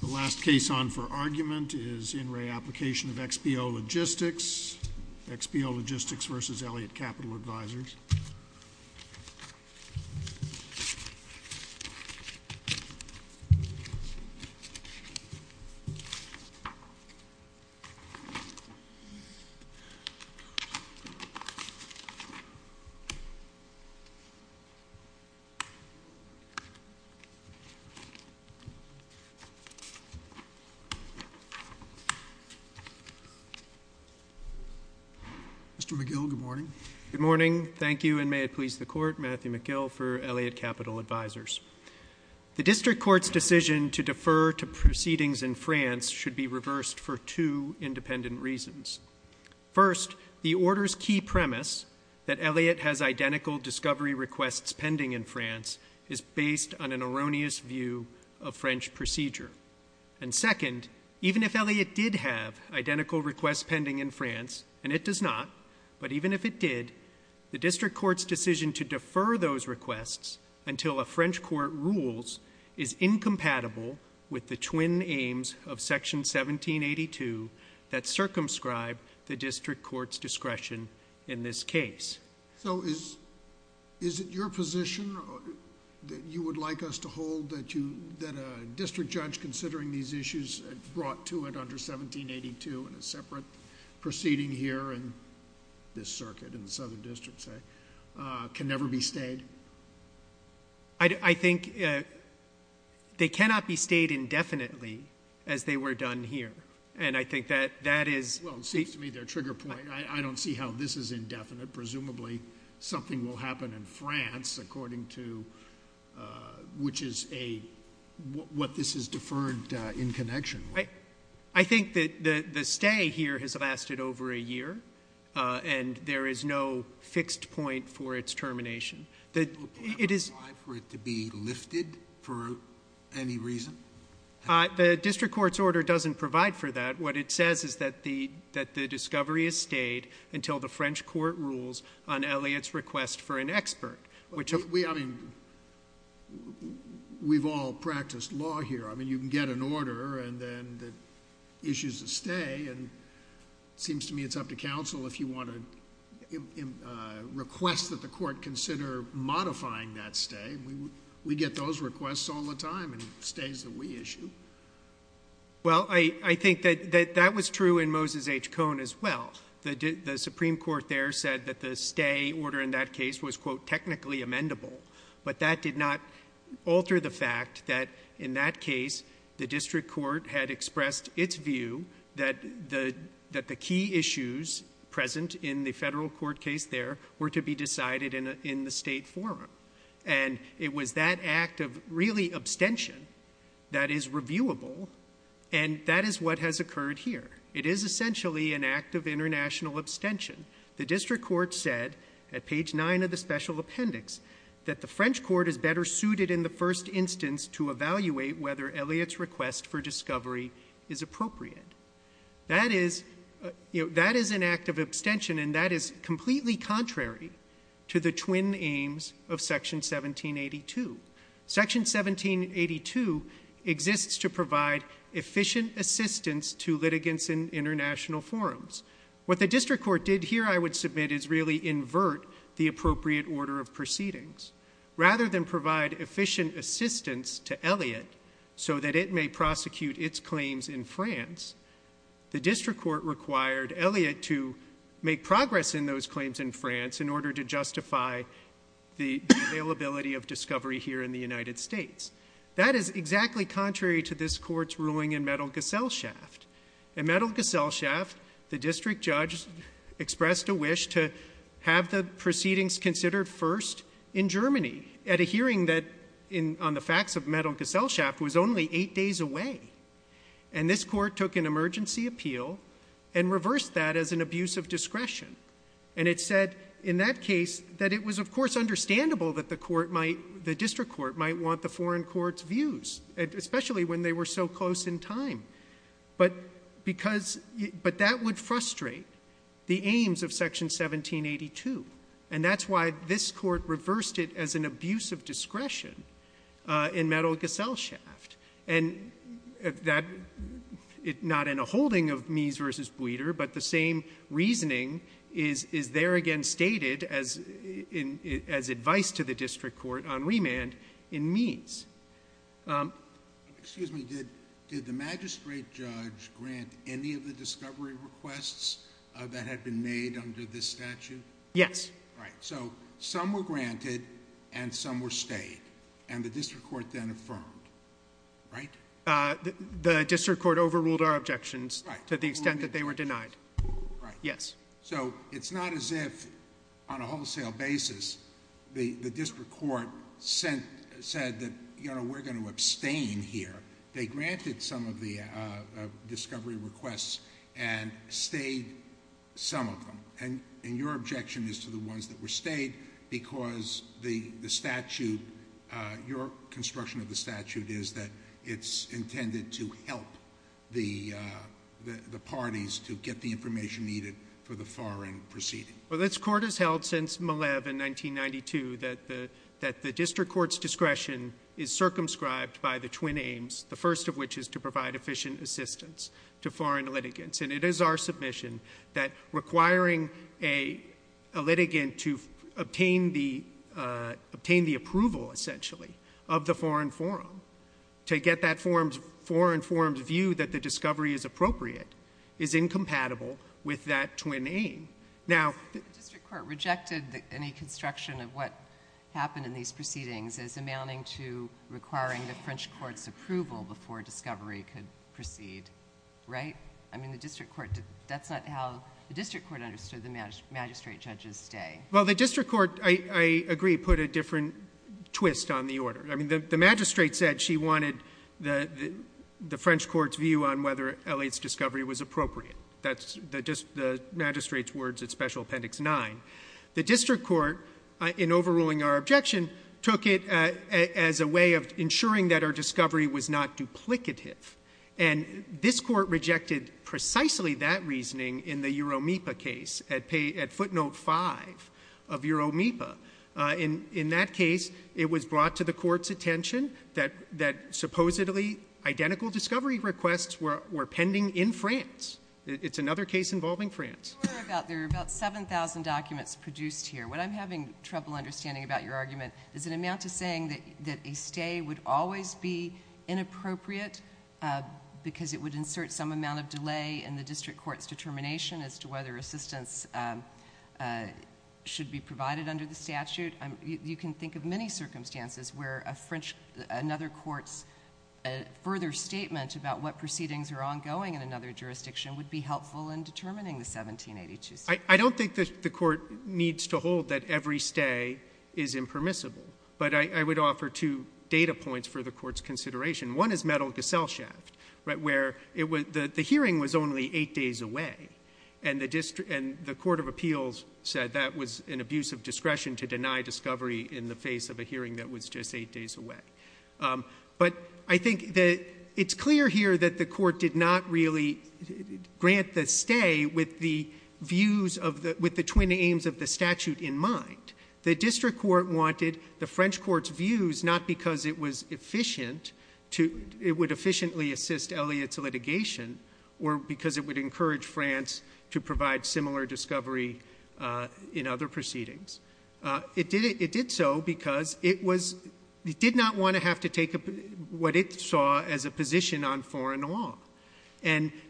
The last case on for argument is In Re.Application of XPO Logistics. XPO Logistics versus Elliott Capital Advisors. Mr. McGill, good morning. Good morning. Thank you, and may it please the Court, Matthew McGill for Elliott Capital Advisors. The District Court's decision to defer to proceedings in France should be reversed for two independent reasons. First, the order's key premise, that Elliott has identical discovery requests pending in Europe. And second, even if Elliott did have identical requests pending in France, and it does not, but even if it did, the District Court's decision to defer those requests until a French court rules is incompatible with the twin aims of Section 1782 that circumscribe the District Court's discretion in this case. So is it your position that you would like us to hold that a district judge considering these issues brought to it under 1782 in a separate proceeding here in this circuit in the Southern District, say, can never be stayed? I think they cannot be stayed indefinitely as they were done here, and I think that that is... Well, it seems to me they're a trigger point. I don't see how this is indefinite. Presumably something will happen in France, according to... which is a... what this is deferred in connection with. I think that the stay here has lasted over a year, and there is no fixed point for its termination. It is... Can it be applied for it to be lifted for any reason? The District Court's order doesn't provide for that. What it says is that the discovery is stayed until the French Court rules on Eliot's request for an expert, which... We... I mean, we've all practiced law here. I mean, you can get an order and then it issues a stay, and it seems to me it's up to counsel if you want to request that the court consider modifying that stay. We get those requests all the time in stays that we issue. Well, I think that that was true in Moses H. Cohn as well. The Supreme Court there said that the stay order in that case was, quote, technically amendable, but that did not alter the fact that in that case, the District Court had expressed its view that the key issues present in the federal court case there were to be decided in the state forum. And it was that act of really abstention that is reviewable, and that is what has occurred here. It is essentially an act of international abstention. The District Court said at page 9 of the Special Appendix that the French Court is better suited in the first instance to evaluate whether Eliot's request for discovery is appropriate. That is an act of abstention, and that is completely contrary to the twin aims of Section 1782. Section 1782 exists to provide efficient assistance to litigants in international forums. What the District Court did here, I would submit, is really invert the appropriate order of proceedings. Rather than provide efficient assistance to Eliot so that it may prosecute its claims in France, the District Court required Eliot to make progress in those claims in France in order to justify the availability of discovery here in the United States. That is exactly contrary to this Court's ruling in Mettelgesellschaft. In Mettelgesellschaft, the District Judge expressed a wish to have the proceedings considered first in Germany at a hearing that, on the facts of Mettelgesellschaft, was only eight days away. And this Court took an emergency appeal and reversed that as an abuse of discretion. And it said in that case that it was, of course, understandable that the District Court might want the foreign court's views, especially when they were so close in time. But that would frustrate the aims of Section 1782. And that's why this Court reversed it as an abuse of discretion in Mettelgesellschaft. And that, not in a holding of Mies v. Buiter, but the same reasoning is there again stated as advice to the District Court on remand in Mies. Excuse me, did the Magistrate Judge grant any of the discovery requests that had been made under this statute? Yes. Right. So, some were granted and some were stayed, and the District Court then affirmed, right? The District Court overruled our objections to the extent that they were denied. Right. Yes. So, it's not as if, on a wholesale basis, the District Court said that, you know, we're going to abstain here. They granted some of the discovery requests and stayed some of them. And your objection is to the ones that were stayed because the statute, your construction of the statute is that it's intended to help the parties to get the information needed for the foreign proceeding. Well, this Court has held since Malev in 1992 that the District Court's discretion is circumscribed by the twin aims, the first of which is to provide efficient assistance to foreign litigants. And it is our submission that requiring a litigant to obtain the approval, essentially, of the foreign forum to get that foreign forum's view that the discovery is appropriate is incompatible with that twin aim. Now— The District Court rejected any construction of what happened in these proceedings as amounting to requiring the French Court's approval before discovery could proceed, right? I mean, the District Court, that's not how the District Court understood the Magistrate Judge's day. Well, the District Court, I agree, put a different twist on the order. I mean, the Magistrate said she wanted the French Court's view on whether Elliot's discovery was appropriate. That's the Magistrate's words at Special Appendix 9. The District Court, in overruling our objection, took it as a way of ensuring that our discovery was not duplicative. And this Court rejected precisely that reasoning in the Euromipa case at footnote 5 of Euromipa. In that case, it was brought to the Court's attention that supposedly identical discovery requests were pending in France. It's another case involving France. There are about 7,000 documents produced here. What I'm having trouble understanding about your argument is an amount to saying that a stay would always be inappropriate because it would insert some amount of delay in the District Court's determination as to whether assistance should be provided under the statute. You can think of many circumstances where another court's further statement about what proceedings are ongoing in another jurisdiction would be helpful in determining the 1782 statute. I don't think the Court needs to hold that every stay is impermissible. But I would offer two data points for the Court's consideration. One is Metal-Gaselshaft, where the hearing was only eight days away, and the Court of Appeals said that was an abuse of discretion to deny discovery in the face of a hearing that was just eight days away. But I think that it's clear here that the Court did not really grant the stay with the views of the twin aims of the statute in mind. The District Court wanted the French Court's views not because it would efficiently assist Eliot's litigation or because it would encourage France to provide similar discovery in other proceedings. It did so because it did not want to have to take what it saw as a position on foreign law.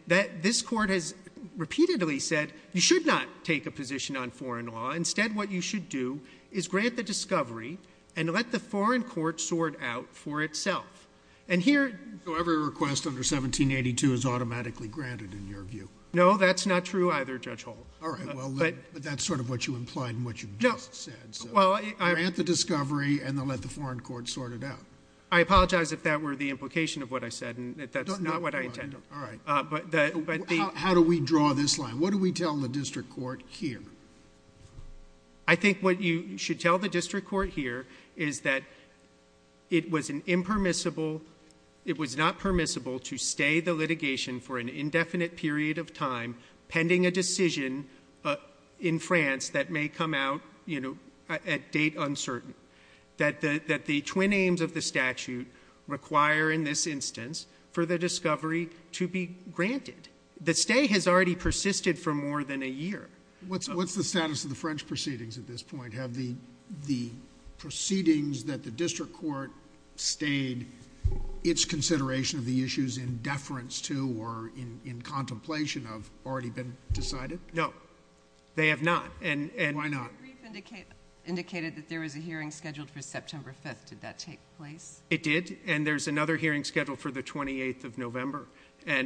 This Court has repeatedly said you should not take a position on foreign law. Instead what you should do is grant the discovery and let the foreign court sort out for itself. And here... So every request under 1782 is automatically granted in your view? No, that's not true either, Judge Holt. All right. Well, but that's sort of what you implied in what you just said, so grant the discovery and then let the foreign court sort it out. I apologize if that were the implication of what I said and if that's not what I intended. All right. But the... How do we draw this line? What do we tell the District Court here? I think what you should tell the District Court here is that it was an impermissible... it was not permissible to stay the litigation for an indefinite period of time pending a decision in France that may come out, you know, at date uncertain, that the twin aims of the statute require in this instance for the discovery to be granted. The stay has already persisted for more than a year. What's the status of the French proceedings at this point? Have the proceedings that the District Court stayed, its consideration of the issues in deference to or in contemplation of already been decided? No. They have not. And... Why not? The brief indicated that there was a hearing scheduled for September 5th. Did that take place? It did. And there's another hearing scheduled for the 28th of November.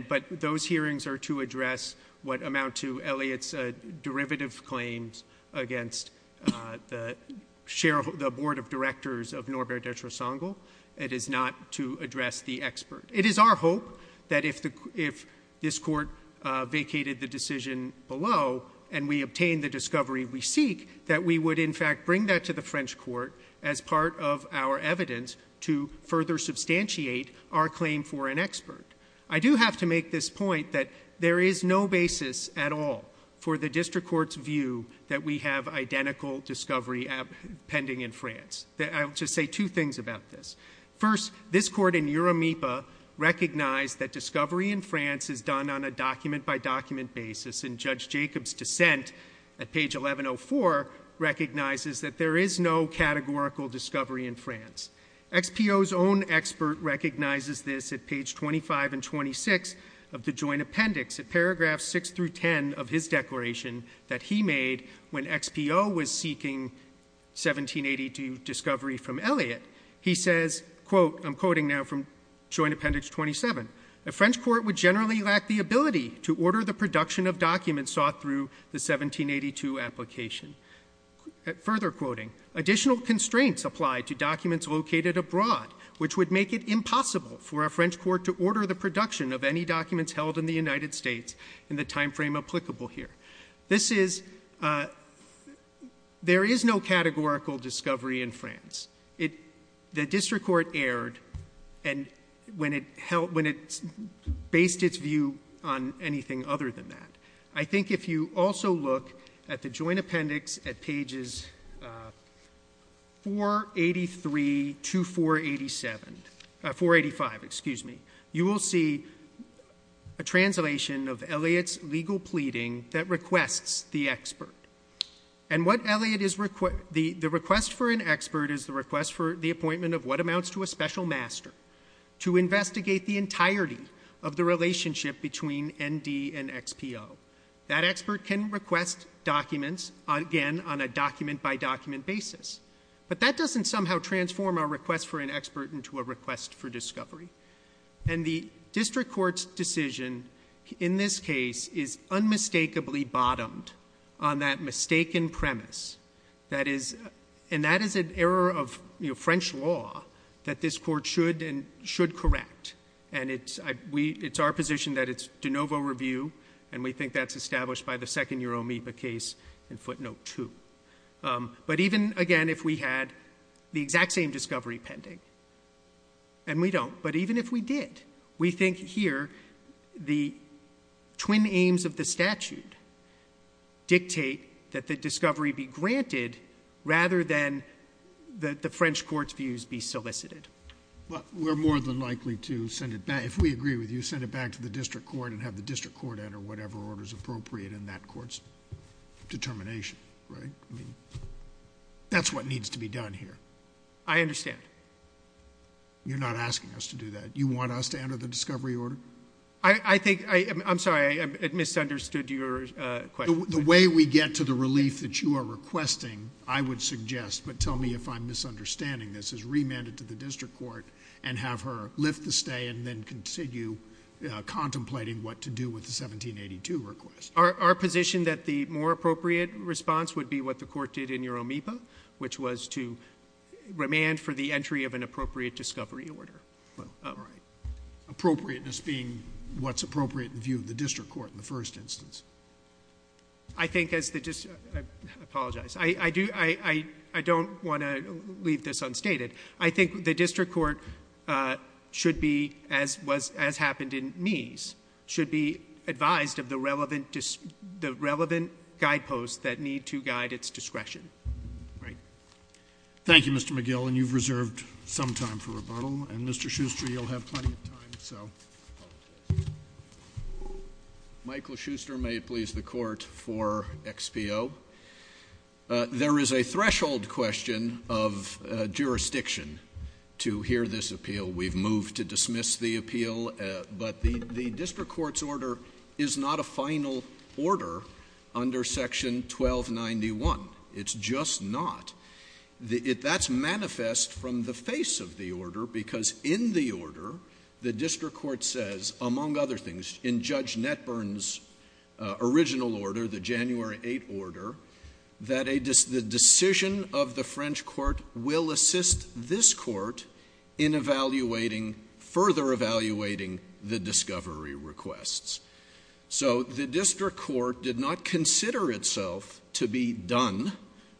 But those hearings are to address what amount to Eliot's derivative claims against the Board of Directors of Norbert de Tresongel. It is not to address the expert. It is our hope that if this Court vacated the decision below and we obtained the discovery we seek, that we would in fact bring that to the French Court as part of our evidence to further substantiate our claim for an expert. I do have to make this point that there is no basis at all for the District Court's view that we have identical discovery pending in France. I'll just say two things about this. First, this Court in Euromipa recognized that discovery in France is done on a document by document basis and Judge Jacob's dissent at page 1104 recognizes that there is no categorical discovery in France. XPO's own expert recognizes this at page 25 and 26 of the Joint Appendix at paragraphs 6 through 10 of his declaration that he made when XPO was seeking 1782 discovery from Eliot. He says, quote, I'm quoting now from Joint Appendix 27, a French Court would generally lack the ability to order the production of documents sought through the 1782 application. Further quoting, additional constraints apply to documents located abroad, which would make it impossible for a French Court to order the production of any documents held in the United States in the timeframe applicable here. This is, there is no categorical discovery in France. The District Court erred when it based its view on anything other than that. I think if you also look at the Joint Appendix at pages 483 to 487, 485, excuse me, you will see a translation of Eliot's legal pleading that requests the expert. And what Eliot is, the request for an expert is the request for the appointment of what amounts to a special master to investigate the entirety of the relationship between ND and XPO. That expert can request documents, again, on a document-by-document basis. But that doesn't somehow transform our request for an expert into a request for discovery. And the District Court's decision in this case is unmistakably bottomed on that mistaken premise that is, and that is an error of French law that this Court should and should correct. And it's our position that it's de novo review, and we think that's established by the second year OMIPA case in footnote two. But even, again, if we had the exact same discovery pending, and we don't, but even if we did, we think here the twin aims of the statute dictate that the discovery be granted rather than that the French Court's views be solicited. Well, we're more than likely to send it back, if we agree with you, send it back to the District Court and have the District Court enter whatever order is appropriate in that Court's determination, right? I mean, that's what needs to be done here. I understand. You're not asking us to do that. You want us to enter the discovery order? I think, I'm sorry, I misunderstood your question. The way we get to the relief that you are requesting, I would suggest, but tell me if I'm misunderstanding this, is remand it to the District Court and have her lift the stay and then continue contemplating what to do with the 1782 request. Our position that the more appropriate response would be what the Court did in your OMIPA, which was to remand for the entry of an appropriate discovery order. Appropriateness being what's appropriate in view of the District Court in the first instance. I think as the District, I apologize, I don't want to leave this unstated. I think the District Court should be, as happened in Meese, should be advised of the relevant guideposts that need to guide its discretion, right? Thank you, Mr. McGill, and you've reserved some time for rebuttal, and Mr. Schuster, you'll have plenty of time, so. Michael Schuster, may it please the Court, for XPO. There is a threshold question of jurisdiction to hear this appeal. We've moved to dismiss the appeal, but the District Court's order is not a final order under Section 1291. It's just not. That's manifest from the face of the order, because in the order, the District Court says, among other things, in Judge Netburn's original order, the January 8 order, that the decision of the French Court will assist this Court in evaluating, further evaluating the discovery requests. So the District Court did not consider itself to be done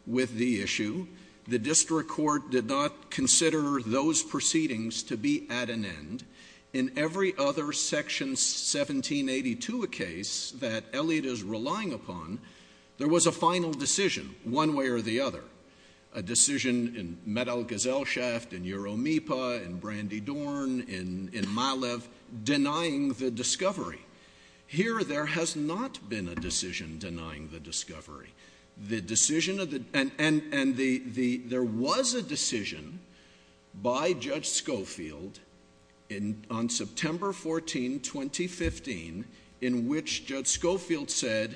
with the issue. The District Court did not consider those proceedings to be at an end. In every other Section 1782 case that Elliot is relying upon, there was a final decision, one way or the other. A decision in Metal Gesellschaft, in Euromipa, in Brandy Dorn, in Milev, denying the discovery. Here there has not been a decision denying the discovery, and there was a decision by Judge Schofield on September 14, 2015, in which Judge Schofield said,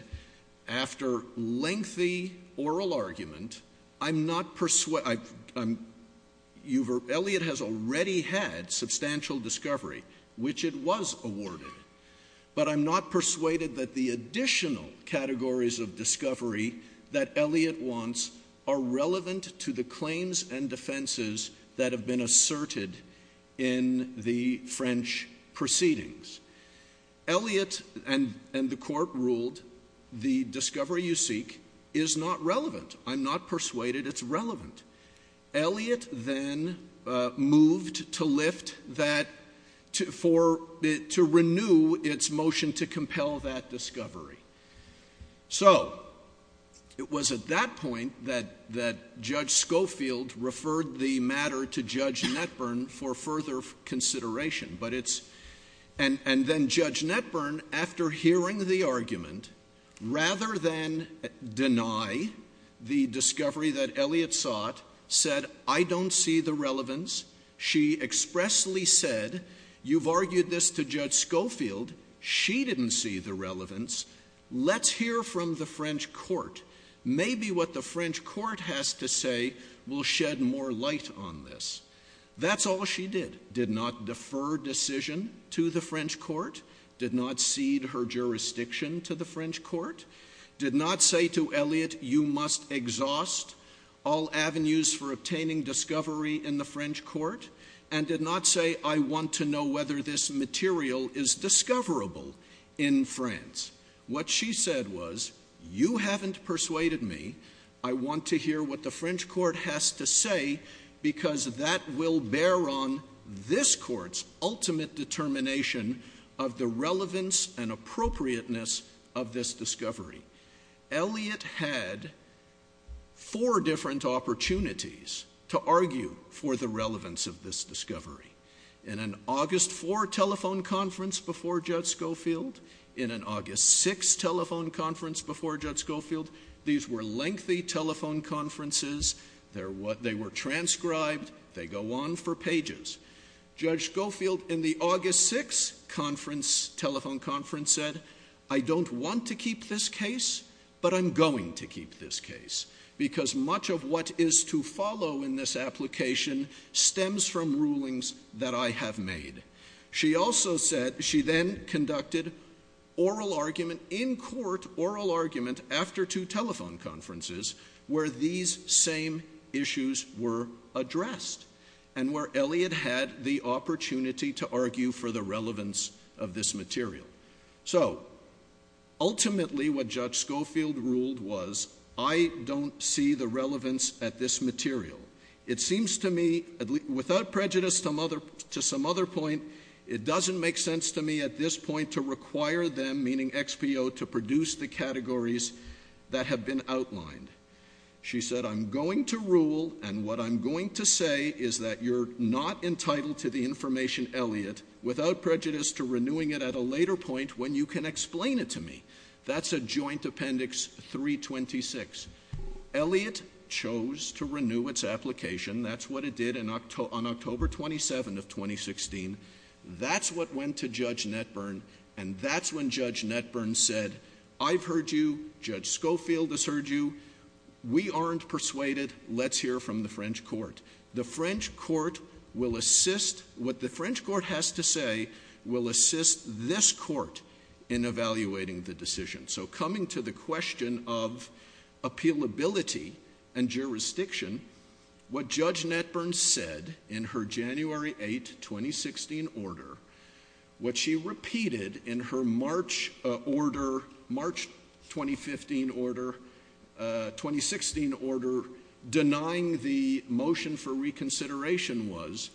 after lengthy oral argument, I'm not persu—Elliot has already had substantial discovery, which it was awarded, but I'm not persuaded that the additional categories of discovery that Elliot wants are relevant to the claims and defenses that have been asserted in the French proceedings. Elliot, and the Court ruled, the discovery you seek is not relevant. I'm not persuaded it's relevant. Elliot then moved to lift that, to renew its motion to compel that discovery. So it was at that point that Judge Schofield referred the matter to Judge Netburn for further consideration, but it's—and then Judge Netburn, after hearing the argument, rather than deny the discovery that Elliot sought, said, I don't see the relevance. She expressly said, you've argued this to Judge Schofield. She didn't see the relevance. Let's hear from the French Court. Maybe what the French Court has to say will shed more light on this. That's all she did, did not defer decision to the French Court, did not cede her jurisdiction to the French Court, did not say to Elliot, you must exhaust all avenues for obtaining discovery in the French Court, and did not say, I want to know whether this material is discoverable in France. What she said was, you haven't persuaded me. I want to hear what the French Court has to say because that will bear on this Court's ultimate determination of the relevance and appropriateness of this discovery. Elliot had four different opportunities to argue for the relevance of this discovery. In an August 4 telephone conference before Judge Schofield, in an August 6 telephone conference before Judge Schofield, these were lengthy telephone conferences. They were transcribed. They go on for pages. Judge Schofield in the August 6 conference, telephone conference said, I don't want to keep this case, but I'm going to keep this case because much of what is to follow in this application stems from rulings that I have made. She also said, she then conducted oral argument in court, oral argument after two telephone conferences where these same issues were addressed and where Elliot had the opportunity to argue for the relevance of this material. So ultimately what Judge Schofield ruled was, I don't see the relevance at this material. It seems to me, without prejudice to some other point, it doesn't make sense to me at this point to require them, meaning XPO, to produce the categories that have been outlined. She said, I'm going to rule and what I'm going to say is that you're not entitled to the information Elliot, without prejudice to renewing it at a later point when you can explain it to me. That's a joint appendix 326. Elliot chose to renew its application. That's what it did on October 27 of 2016. That's what went to Judge Netburn and that's when Judge Netburn said, I've heard you, Judge Schofield has heard you, we aren't persuaded, let's hear from the French court. The French court will assist, what the French court has to say will assist this court in evaluating the decision. So coming to the question of appealability and jurisdiction, what Judge Netburn said in her January 8, 2016 order, what she repeated in her March order, March 2015 order, 2016 order denying the motion for reconsideration was,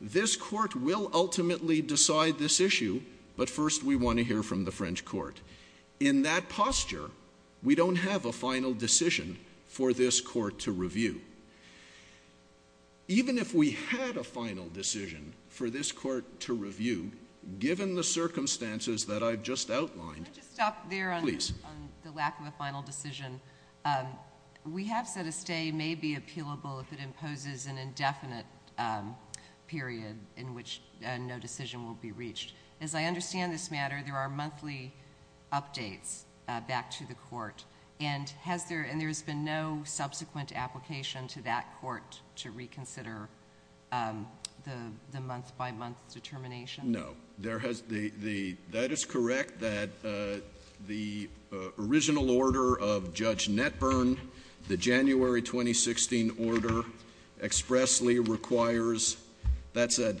this court will ultimately decide this issue but first we want to hear from the French court. In that posture, we don't have a final decision for this court to review. Even if we had a final decision for this court to review, given the circumstances that I've just outlined. Can I just stop there on the lack of a final decision? We have said a stay may be appealable if it imposes an indefinite period in which no decision will be reached. As I understand this matter, there are monthly updates back to the court and there has been no subsequent application to that court to reconsider the month by month determination? No. That is correct that the original order of Judge Netburn, the January 2016 order expressly requires, that's a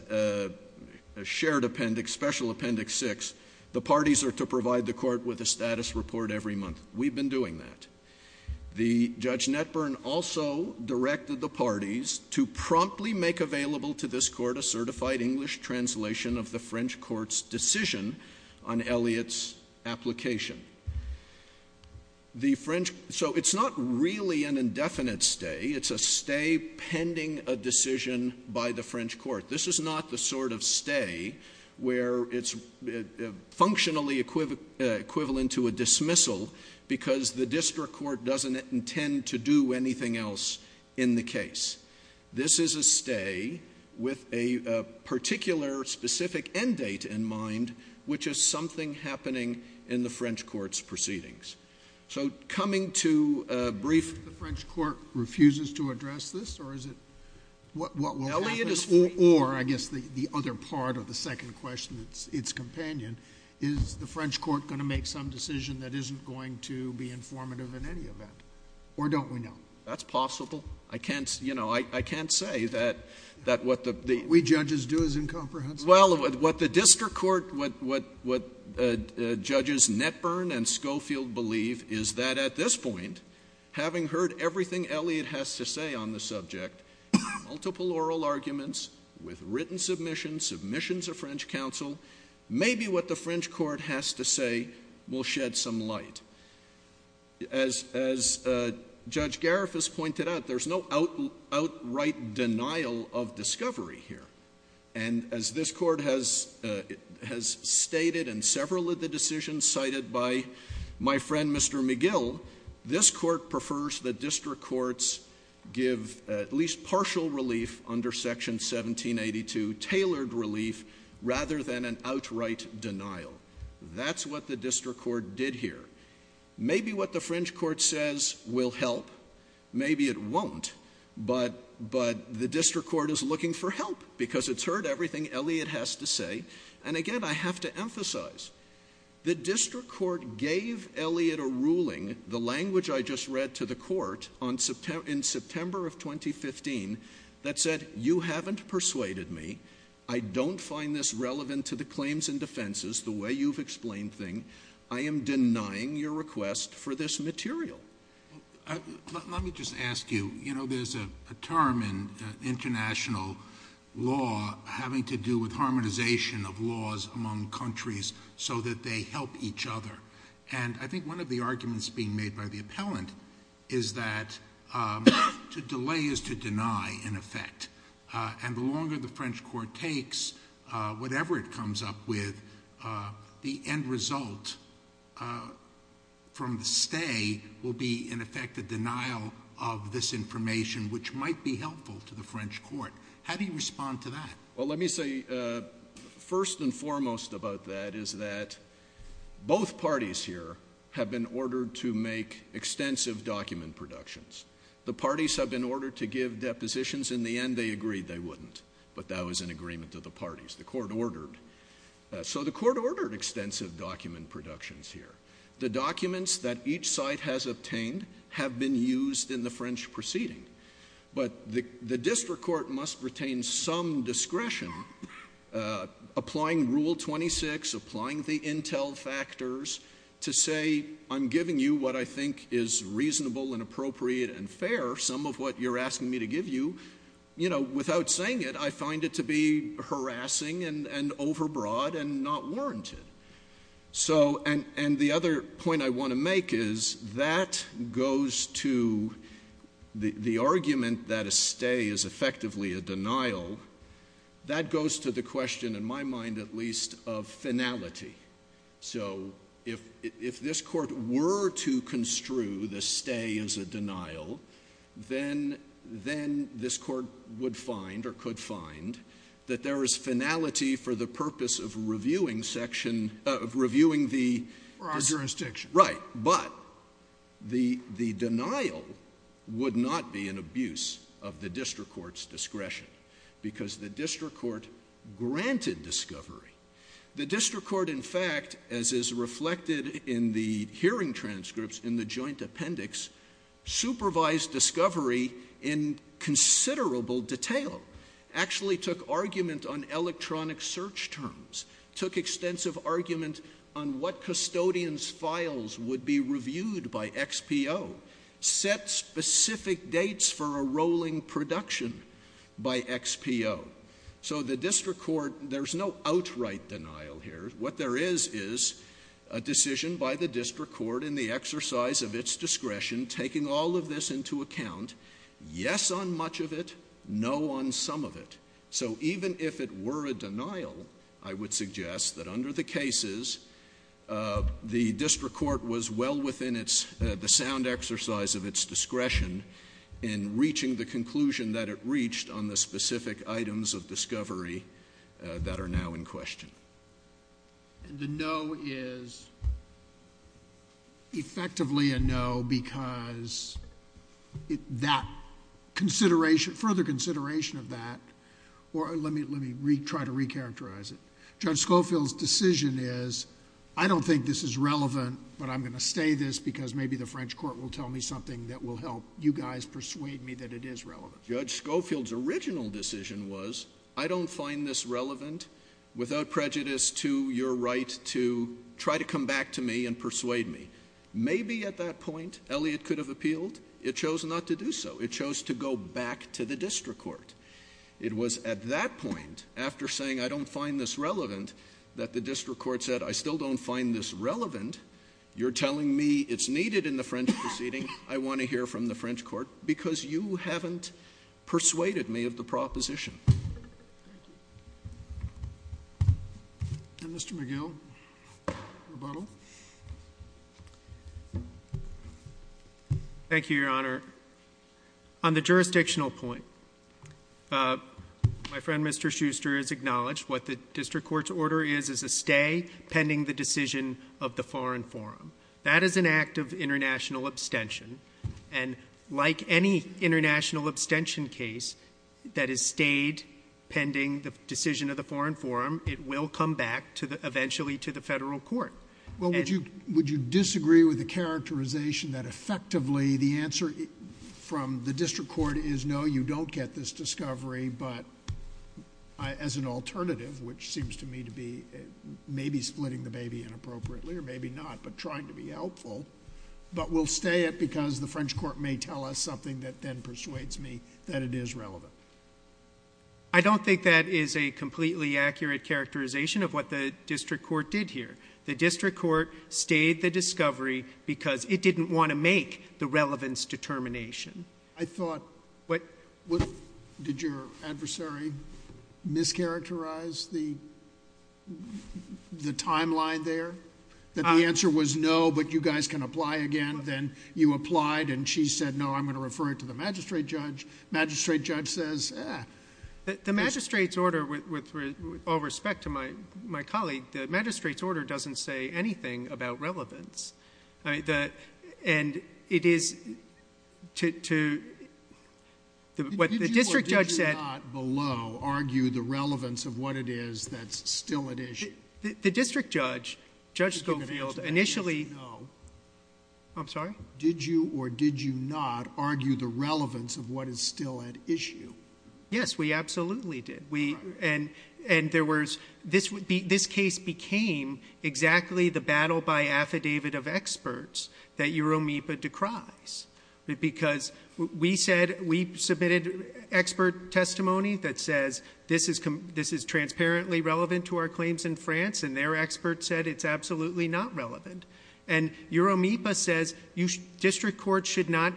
shared appendix, special appendix 6, the parties are to provide the court with a status report every month. We've been doing that. The Judge Netburn also directed the parties to promptly make available to this court a certified English translation of the French court's decision on Elliott's application. So, it's not really an indefinite stay. It's a stay pending a decision by the French court. This is not the sort of stay where it's functionally equivalent to a dismissal because the district court doesn't intend to do anything else in the case. This is a stay with a particular specific end date in mind, which is something happening in the French court's proceedings. So coming to a brief... If the French court refuses to address this, or is it... what will happen? Elliott is... Or, I guess the other part of the second question that's its companion, is the French court going to make some decision that isn't going to be informative in any event? Or don't we know? That's possible. I can't, you know, I can't say that what the... What we judges do is incomprehensible. Well, what the district court, what judges Netburn and Schofield believe is that at this point, having heard everything Elliott has to say on the subject, multiple oral arguments with written submissions, submissions of French counsel, maybe what the French court has to say will shed some light. As Judge Gariff has pointed out, there's no outright denial of discovery here. And as this court has stated in several of the decisions cited by my friend, Mr. McGill, this court prefers the district courts give at least partial relief under Section 1782, tailored relief, rather than an outright denial. That's what the district court did here. Maybe what the French court says will help. Maybe it won't. But the district court is looking for help because it's heard everything Elliott has to say. And again, I have to emphasize, the district court gave Elliott a ruling, the language I just read to the court in September of 2015, that said, you haven't persuaded me. I don't find this relevant to the claims and defenses, the way you've explained things. I am denying your request for this material. Let me just ask you, you know, there's a term in international law having to do with harmonization of laws among countries so that they help each other. And I think one of the arguments being made by the appellant is that to delay is to deny in effect. And the longer the French court takes, whatever it comes up with, the end result from the day will be in effect a denial of this information, which might be helpful to the French court. How do you respond to that? Well, let me say first and foremost about that is that both parties here have been ordered to make extensive document productions. The parties have been ordered to give depositions. In the end, they agreed they wouldn't. But that was an agreement of the parties the court ordered. So the court ordered extensive document productions here. The documents that each site has obtained have been used in the French proceeding. But the district court must retain some discretion, applying Rule 26, applying the intel factors to say I'm giving you what I think is reasonable and appropriate and fair, some of what you're asking me to give you. You know, without saying it, I find it to be harassing and overbroad and not warranted. So and the other point I want to make is that goes to the argument that a stay is effectively a denial, that goes to the question, in my mind at least, of finality. So if this court were to construe the stay as a denial, then this court would find or reviewing the jurisdiction, right? But the denial would not be an abuse of the district court's discretion because the district court granted discovery. The district court, in fact, as is reflected in the hearing transcripts in the joint appendix, supervised discovery in considerable detail, actually took argument on electronic search terms, took extensive argument on what custodian's files would be reviewed by XPO, set specific dates for a rolling production by XPO. So the district court, there's no outright denial here. What there is is a decision by the district court in the exercise of its discretion, taking all of this into account, yes on much of it, no on some of it. So even if it were a denial, I would suggest that under the cases, the district court was well within the sound exercise of its discretion in reaching the conclusion that it reached on the specific items of discovery that are now in question. And the no is effectively a no because further consideration of that, or let me try to re-characterize it. Judge Schofield's decision is, I don't think this is relevant, but I'm going to stay this because maybe the French court will tell me something that will help you guys persuade me that it is relevant. Judge Schofield's original decision was, I don't find this relevant without prejudice to your right to try to come back to me and persuade me. Maybe at that point, Elliott could have appealed. It chose not to do so. It chose to go back to the district court. It was at that point, after saying I don't find this relevant, that the district court said, I still don't find this relevant. You're telling me it's needed in the French proceeding. I want to hear from the French court because you haven't persuaded me of the proposition. Thank you. And Mr. McGill, rebuttal. Thank you, Your Honor. On the jurisdictional point, my friend Mr. Schuster has acknowledged what the district court's order is, is a stay pending the decision of the foreign forum. That is an act of international abstention and like any international abstention case that is stayed pending the decision of the foreign forum, it will come back eventually to the federal court. Would you disagree with the characterization that effectively the answer from the district court is no, you don't get this discovery, but as an alternative, which seems to me to be maybe splitting the baby inappropriately or maybe not, but trying to be helpful. But we'll stay it because the French court may tell us something that then persuades me that it is relevant. I don't think that is a completely accurate characterization of what the district court did here. The district court stayed the discovery because it didn't want to make the relevance determination. I thought, did your adversary mischaracterize the timeline there? That the answer was no, but you guys can apply again. Then you applied and she said, no, I'm going to refer it to the magistrate judge. Magistrate judge says, eh. The magistrate's order, with all respect to my colleague, the magistrate's order doesn't say anything about relevance. Did you or did you not below argue the relevance of what it is that's still at issue? The district judge, Judge Schofield, initially... Did you or did you not argue the relevance of what is still at issue? Yes, we absolutely did. This case became exactly the battle by affidavit of experts that Euromipa decries. We submitted expert testimony that says this is transparently relevant to our claims in France and their experts said it's absolutely not relevant. Euromipa says district courts should not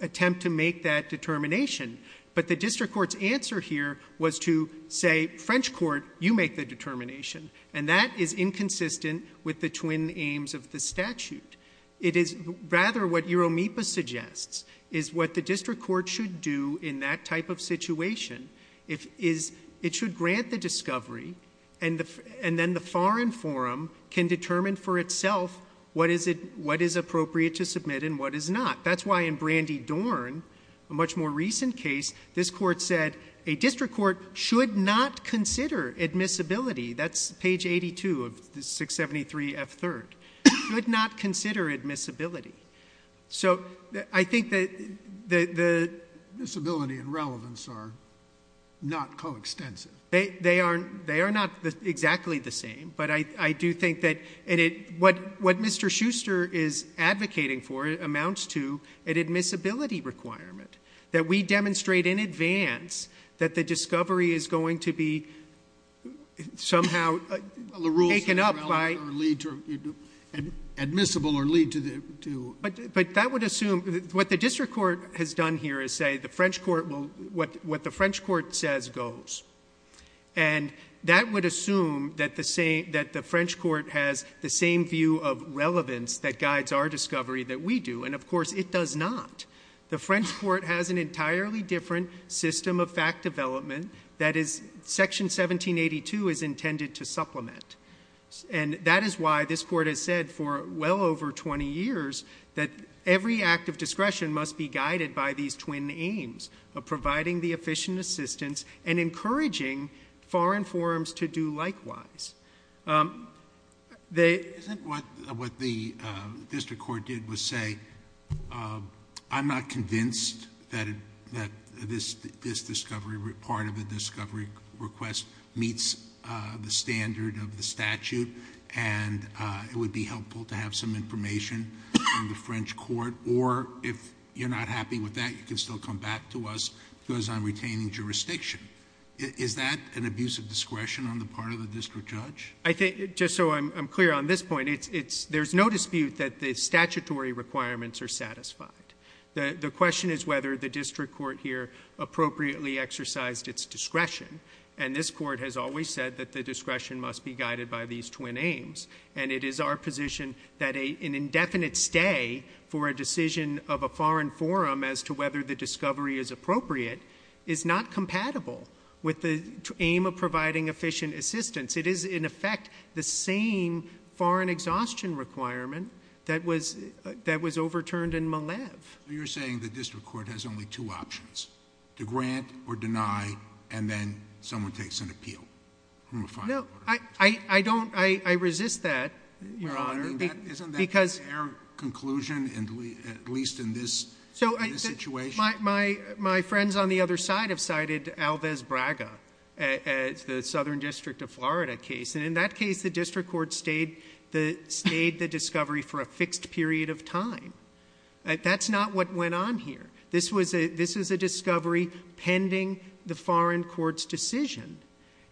attempt to make that determination, but the district court's answer here was to say, French court, you make the determination. That is inconsistent with the twin aims of the statute. It is rather what Euromipa suggests is what the district court should do in that type of situation. It should grant the discovery and then the foreign forum can determine for itself what is appropriate to submit and what is not. That's why in Brandy Dorn, a much more recent case, this court said a district court should not consider admissibility. That's page 82 of 673 F. 3rd, should not consider admissibility. I think that... Admissibility and relevance are not coextensive. They are not exactly the same, but I do think that... what Mr. Schuster is advocating for amounts to an admissibility requirement. That we demonstrate in advance that the discovery is going to be somehow taken up by... The rules are relevant or admissible or lead to... That would assume... what the district court has done here is say the French court will... what the French court says goes. That would assume that the French court has the same view of relevance that guides our discovery that we do. Of course, it does not. The French court has an entirely different system of fact development that is... section 1782 is intended to supplement. That is why this court has said for well over 20 years that every act of discretion must be guided by these twin aims of providing the efficient assistance and encouraging foreign forums to do likewise. They... Justice Alito. Isn't what the district court did was say, I'm not convinced that this discovery... part of the discovery request meets the standard of the statute and it would be helpful to have some information from the French court or if you're not happy with that, you can still come back to us because I'm retaining jurisdiction. Is that an abuse of discretion on the part of the district judge? I think, just so I'm clear on this point, there's no dispute that the statutory requirements are satisfied. The question is whether the district court here appropriately exercised its discretion and this court has always said that the discretion must be guided by these twin aims and it is our position that an indefinite stay for a decision of a foreign forum as to whether the discovery is appropriate is not compatible with the aim of providing efficient assistance. It is, in effect, the same foreign exhaustion requirement that was overturned in Malev. You're saying the district court has only two options, to grant or deny and then someone takes an appeal from a foreign... I resist that, Your Honor, because... My friends on the other side have cited Alves Braga as the Southern District of Florida case. In that case, the district court stayed the discovery for a fixed period of time. That's not what went on here. This was a discovery pending the foreign court's decision.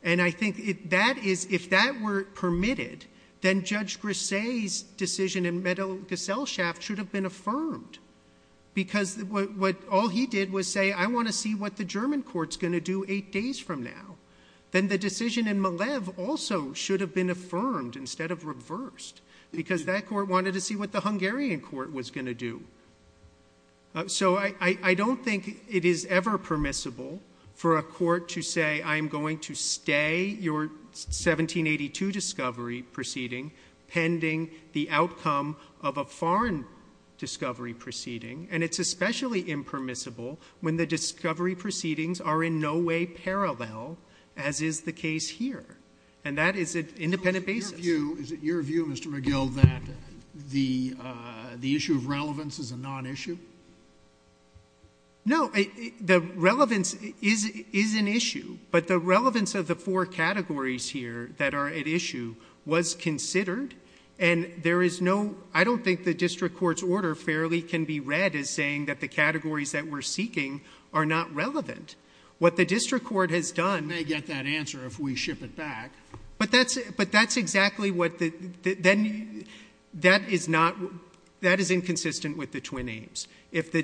I think if that were permitted, then Judge Grisey's decision in Meadow-Gaselshaft should have been affirmed because all he did was say, I want to see what the German court's going to do eight days from now. Then the decision in Malev also should have been affirmed instead of reversed because that court wanted to see what the Hungarian court was going to do. So I don't think it is ever permissible for a court to say, I'm going to stay your 1782 discovery proceeding pending the outcome of a foreign discovery proceeding. And it's especially impermissible when the discovery proceedings are in no way parallel, as is the case here. And that is an independent basis. Is it your view, Mr. McGill, that the issue of relevance is a non-issue? No, the relevance is an issue. But the relevance of the four categories here that are at issue was considered. And there is no, I don't think the district court's order fairly can be read as saying that the categories that we're seeking are not relevant. What the district court has done- We may get that answer if we ship it back. But that's exactly what the, then that is not, that is inconsistent with the twin aims. If a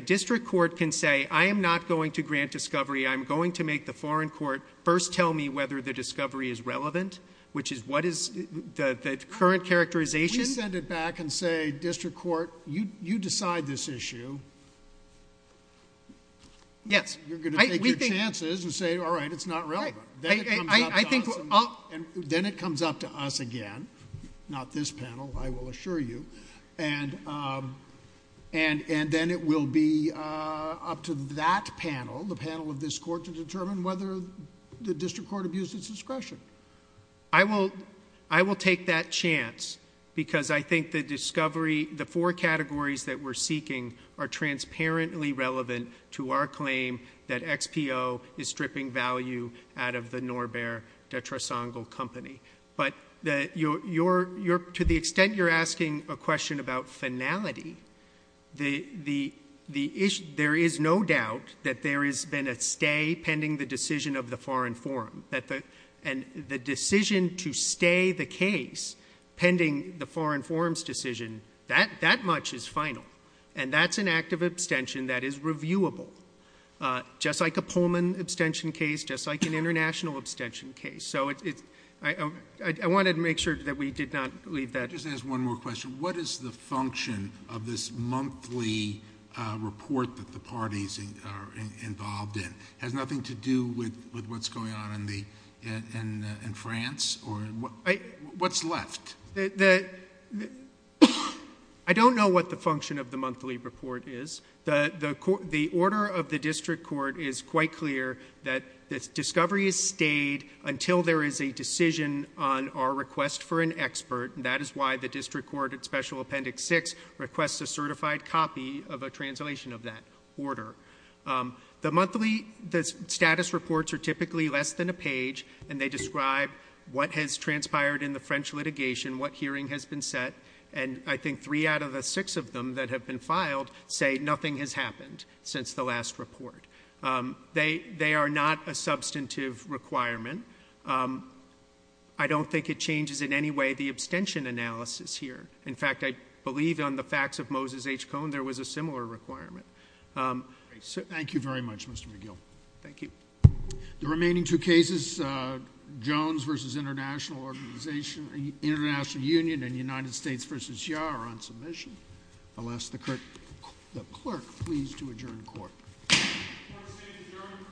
district court can say, I am not going to grant discovery. I'm going to make the foreign court first tell me whether the discovery is relevant, which is what is the current characterization. We send it back and say, district court, you decide this issue. Yes. You're going to take your chances and say, all right, it's not relevant. Then it comes up to us again. Not this panel, I will assure you. And then it will be up to that panel, the panel of this court to determine whether the district court abused its discretion. I will take that chance because I think the discovery, the four categories that we're seeking are transparently relevant to our claim that XPO is stripping value out of the Norbert de Tresongel company. But to the extent you're asking a question about finality, there is no doubt that there has been a stay pending the decision of the foreign forum. And the decision to stay the case pending the foreign forum's decision, that much is final. And that's an act of abstention that is reviewable. Just like a Pullman abstention case, just like an international abstention case. So I wanted to make sure that we did not leave that. Just to ask one more question. What is the function of this monthly report that the parties are involved in? Has nothing to do with what's going on in France? Or what's left? I don't know what the function of the monthly report is. The order of the district court is quite clear that this discovery is stayed until there is a decision on our request for an expert. And that is why the district court at special appendix six requests a certified copy of a translation of that order. The monthly status reports are typically less than a page and they describe what has transpired in the French litigation, what hearing has been set. And I think three out of the six of them that have been filed say nothing has happened since the last report. They are not a substantive requirement. I don't think it changes in any way the abstention analysis here. In fact, I believe on the facts of Moses H. Cohn, there was a similar requirement. Thank you very much, Mr. McGill. Thank you. The remaining two cases, Jones versus International Organization, International Union, and United States versus YAR, are on submission. I'll ask the clerk please to adjourn court. Court is adjourned.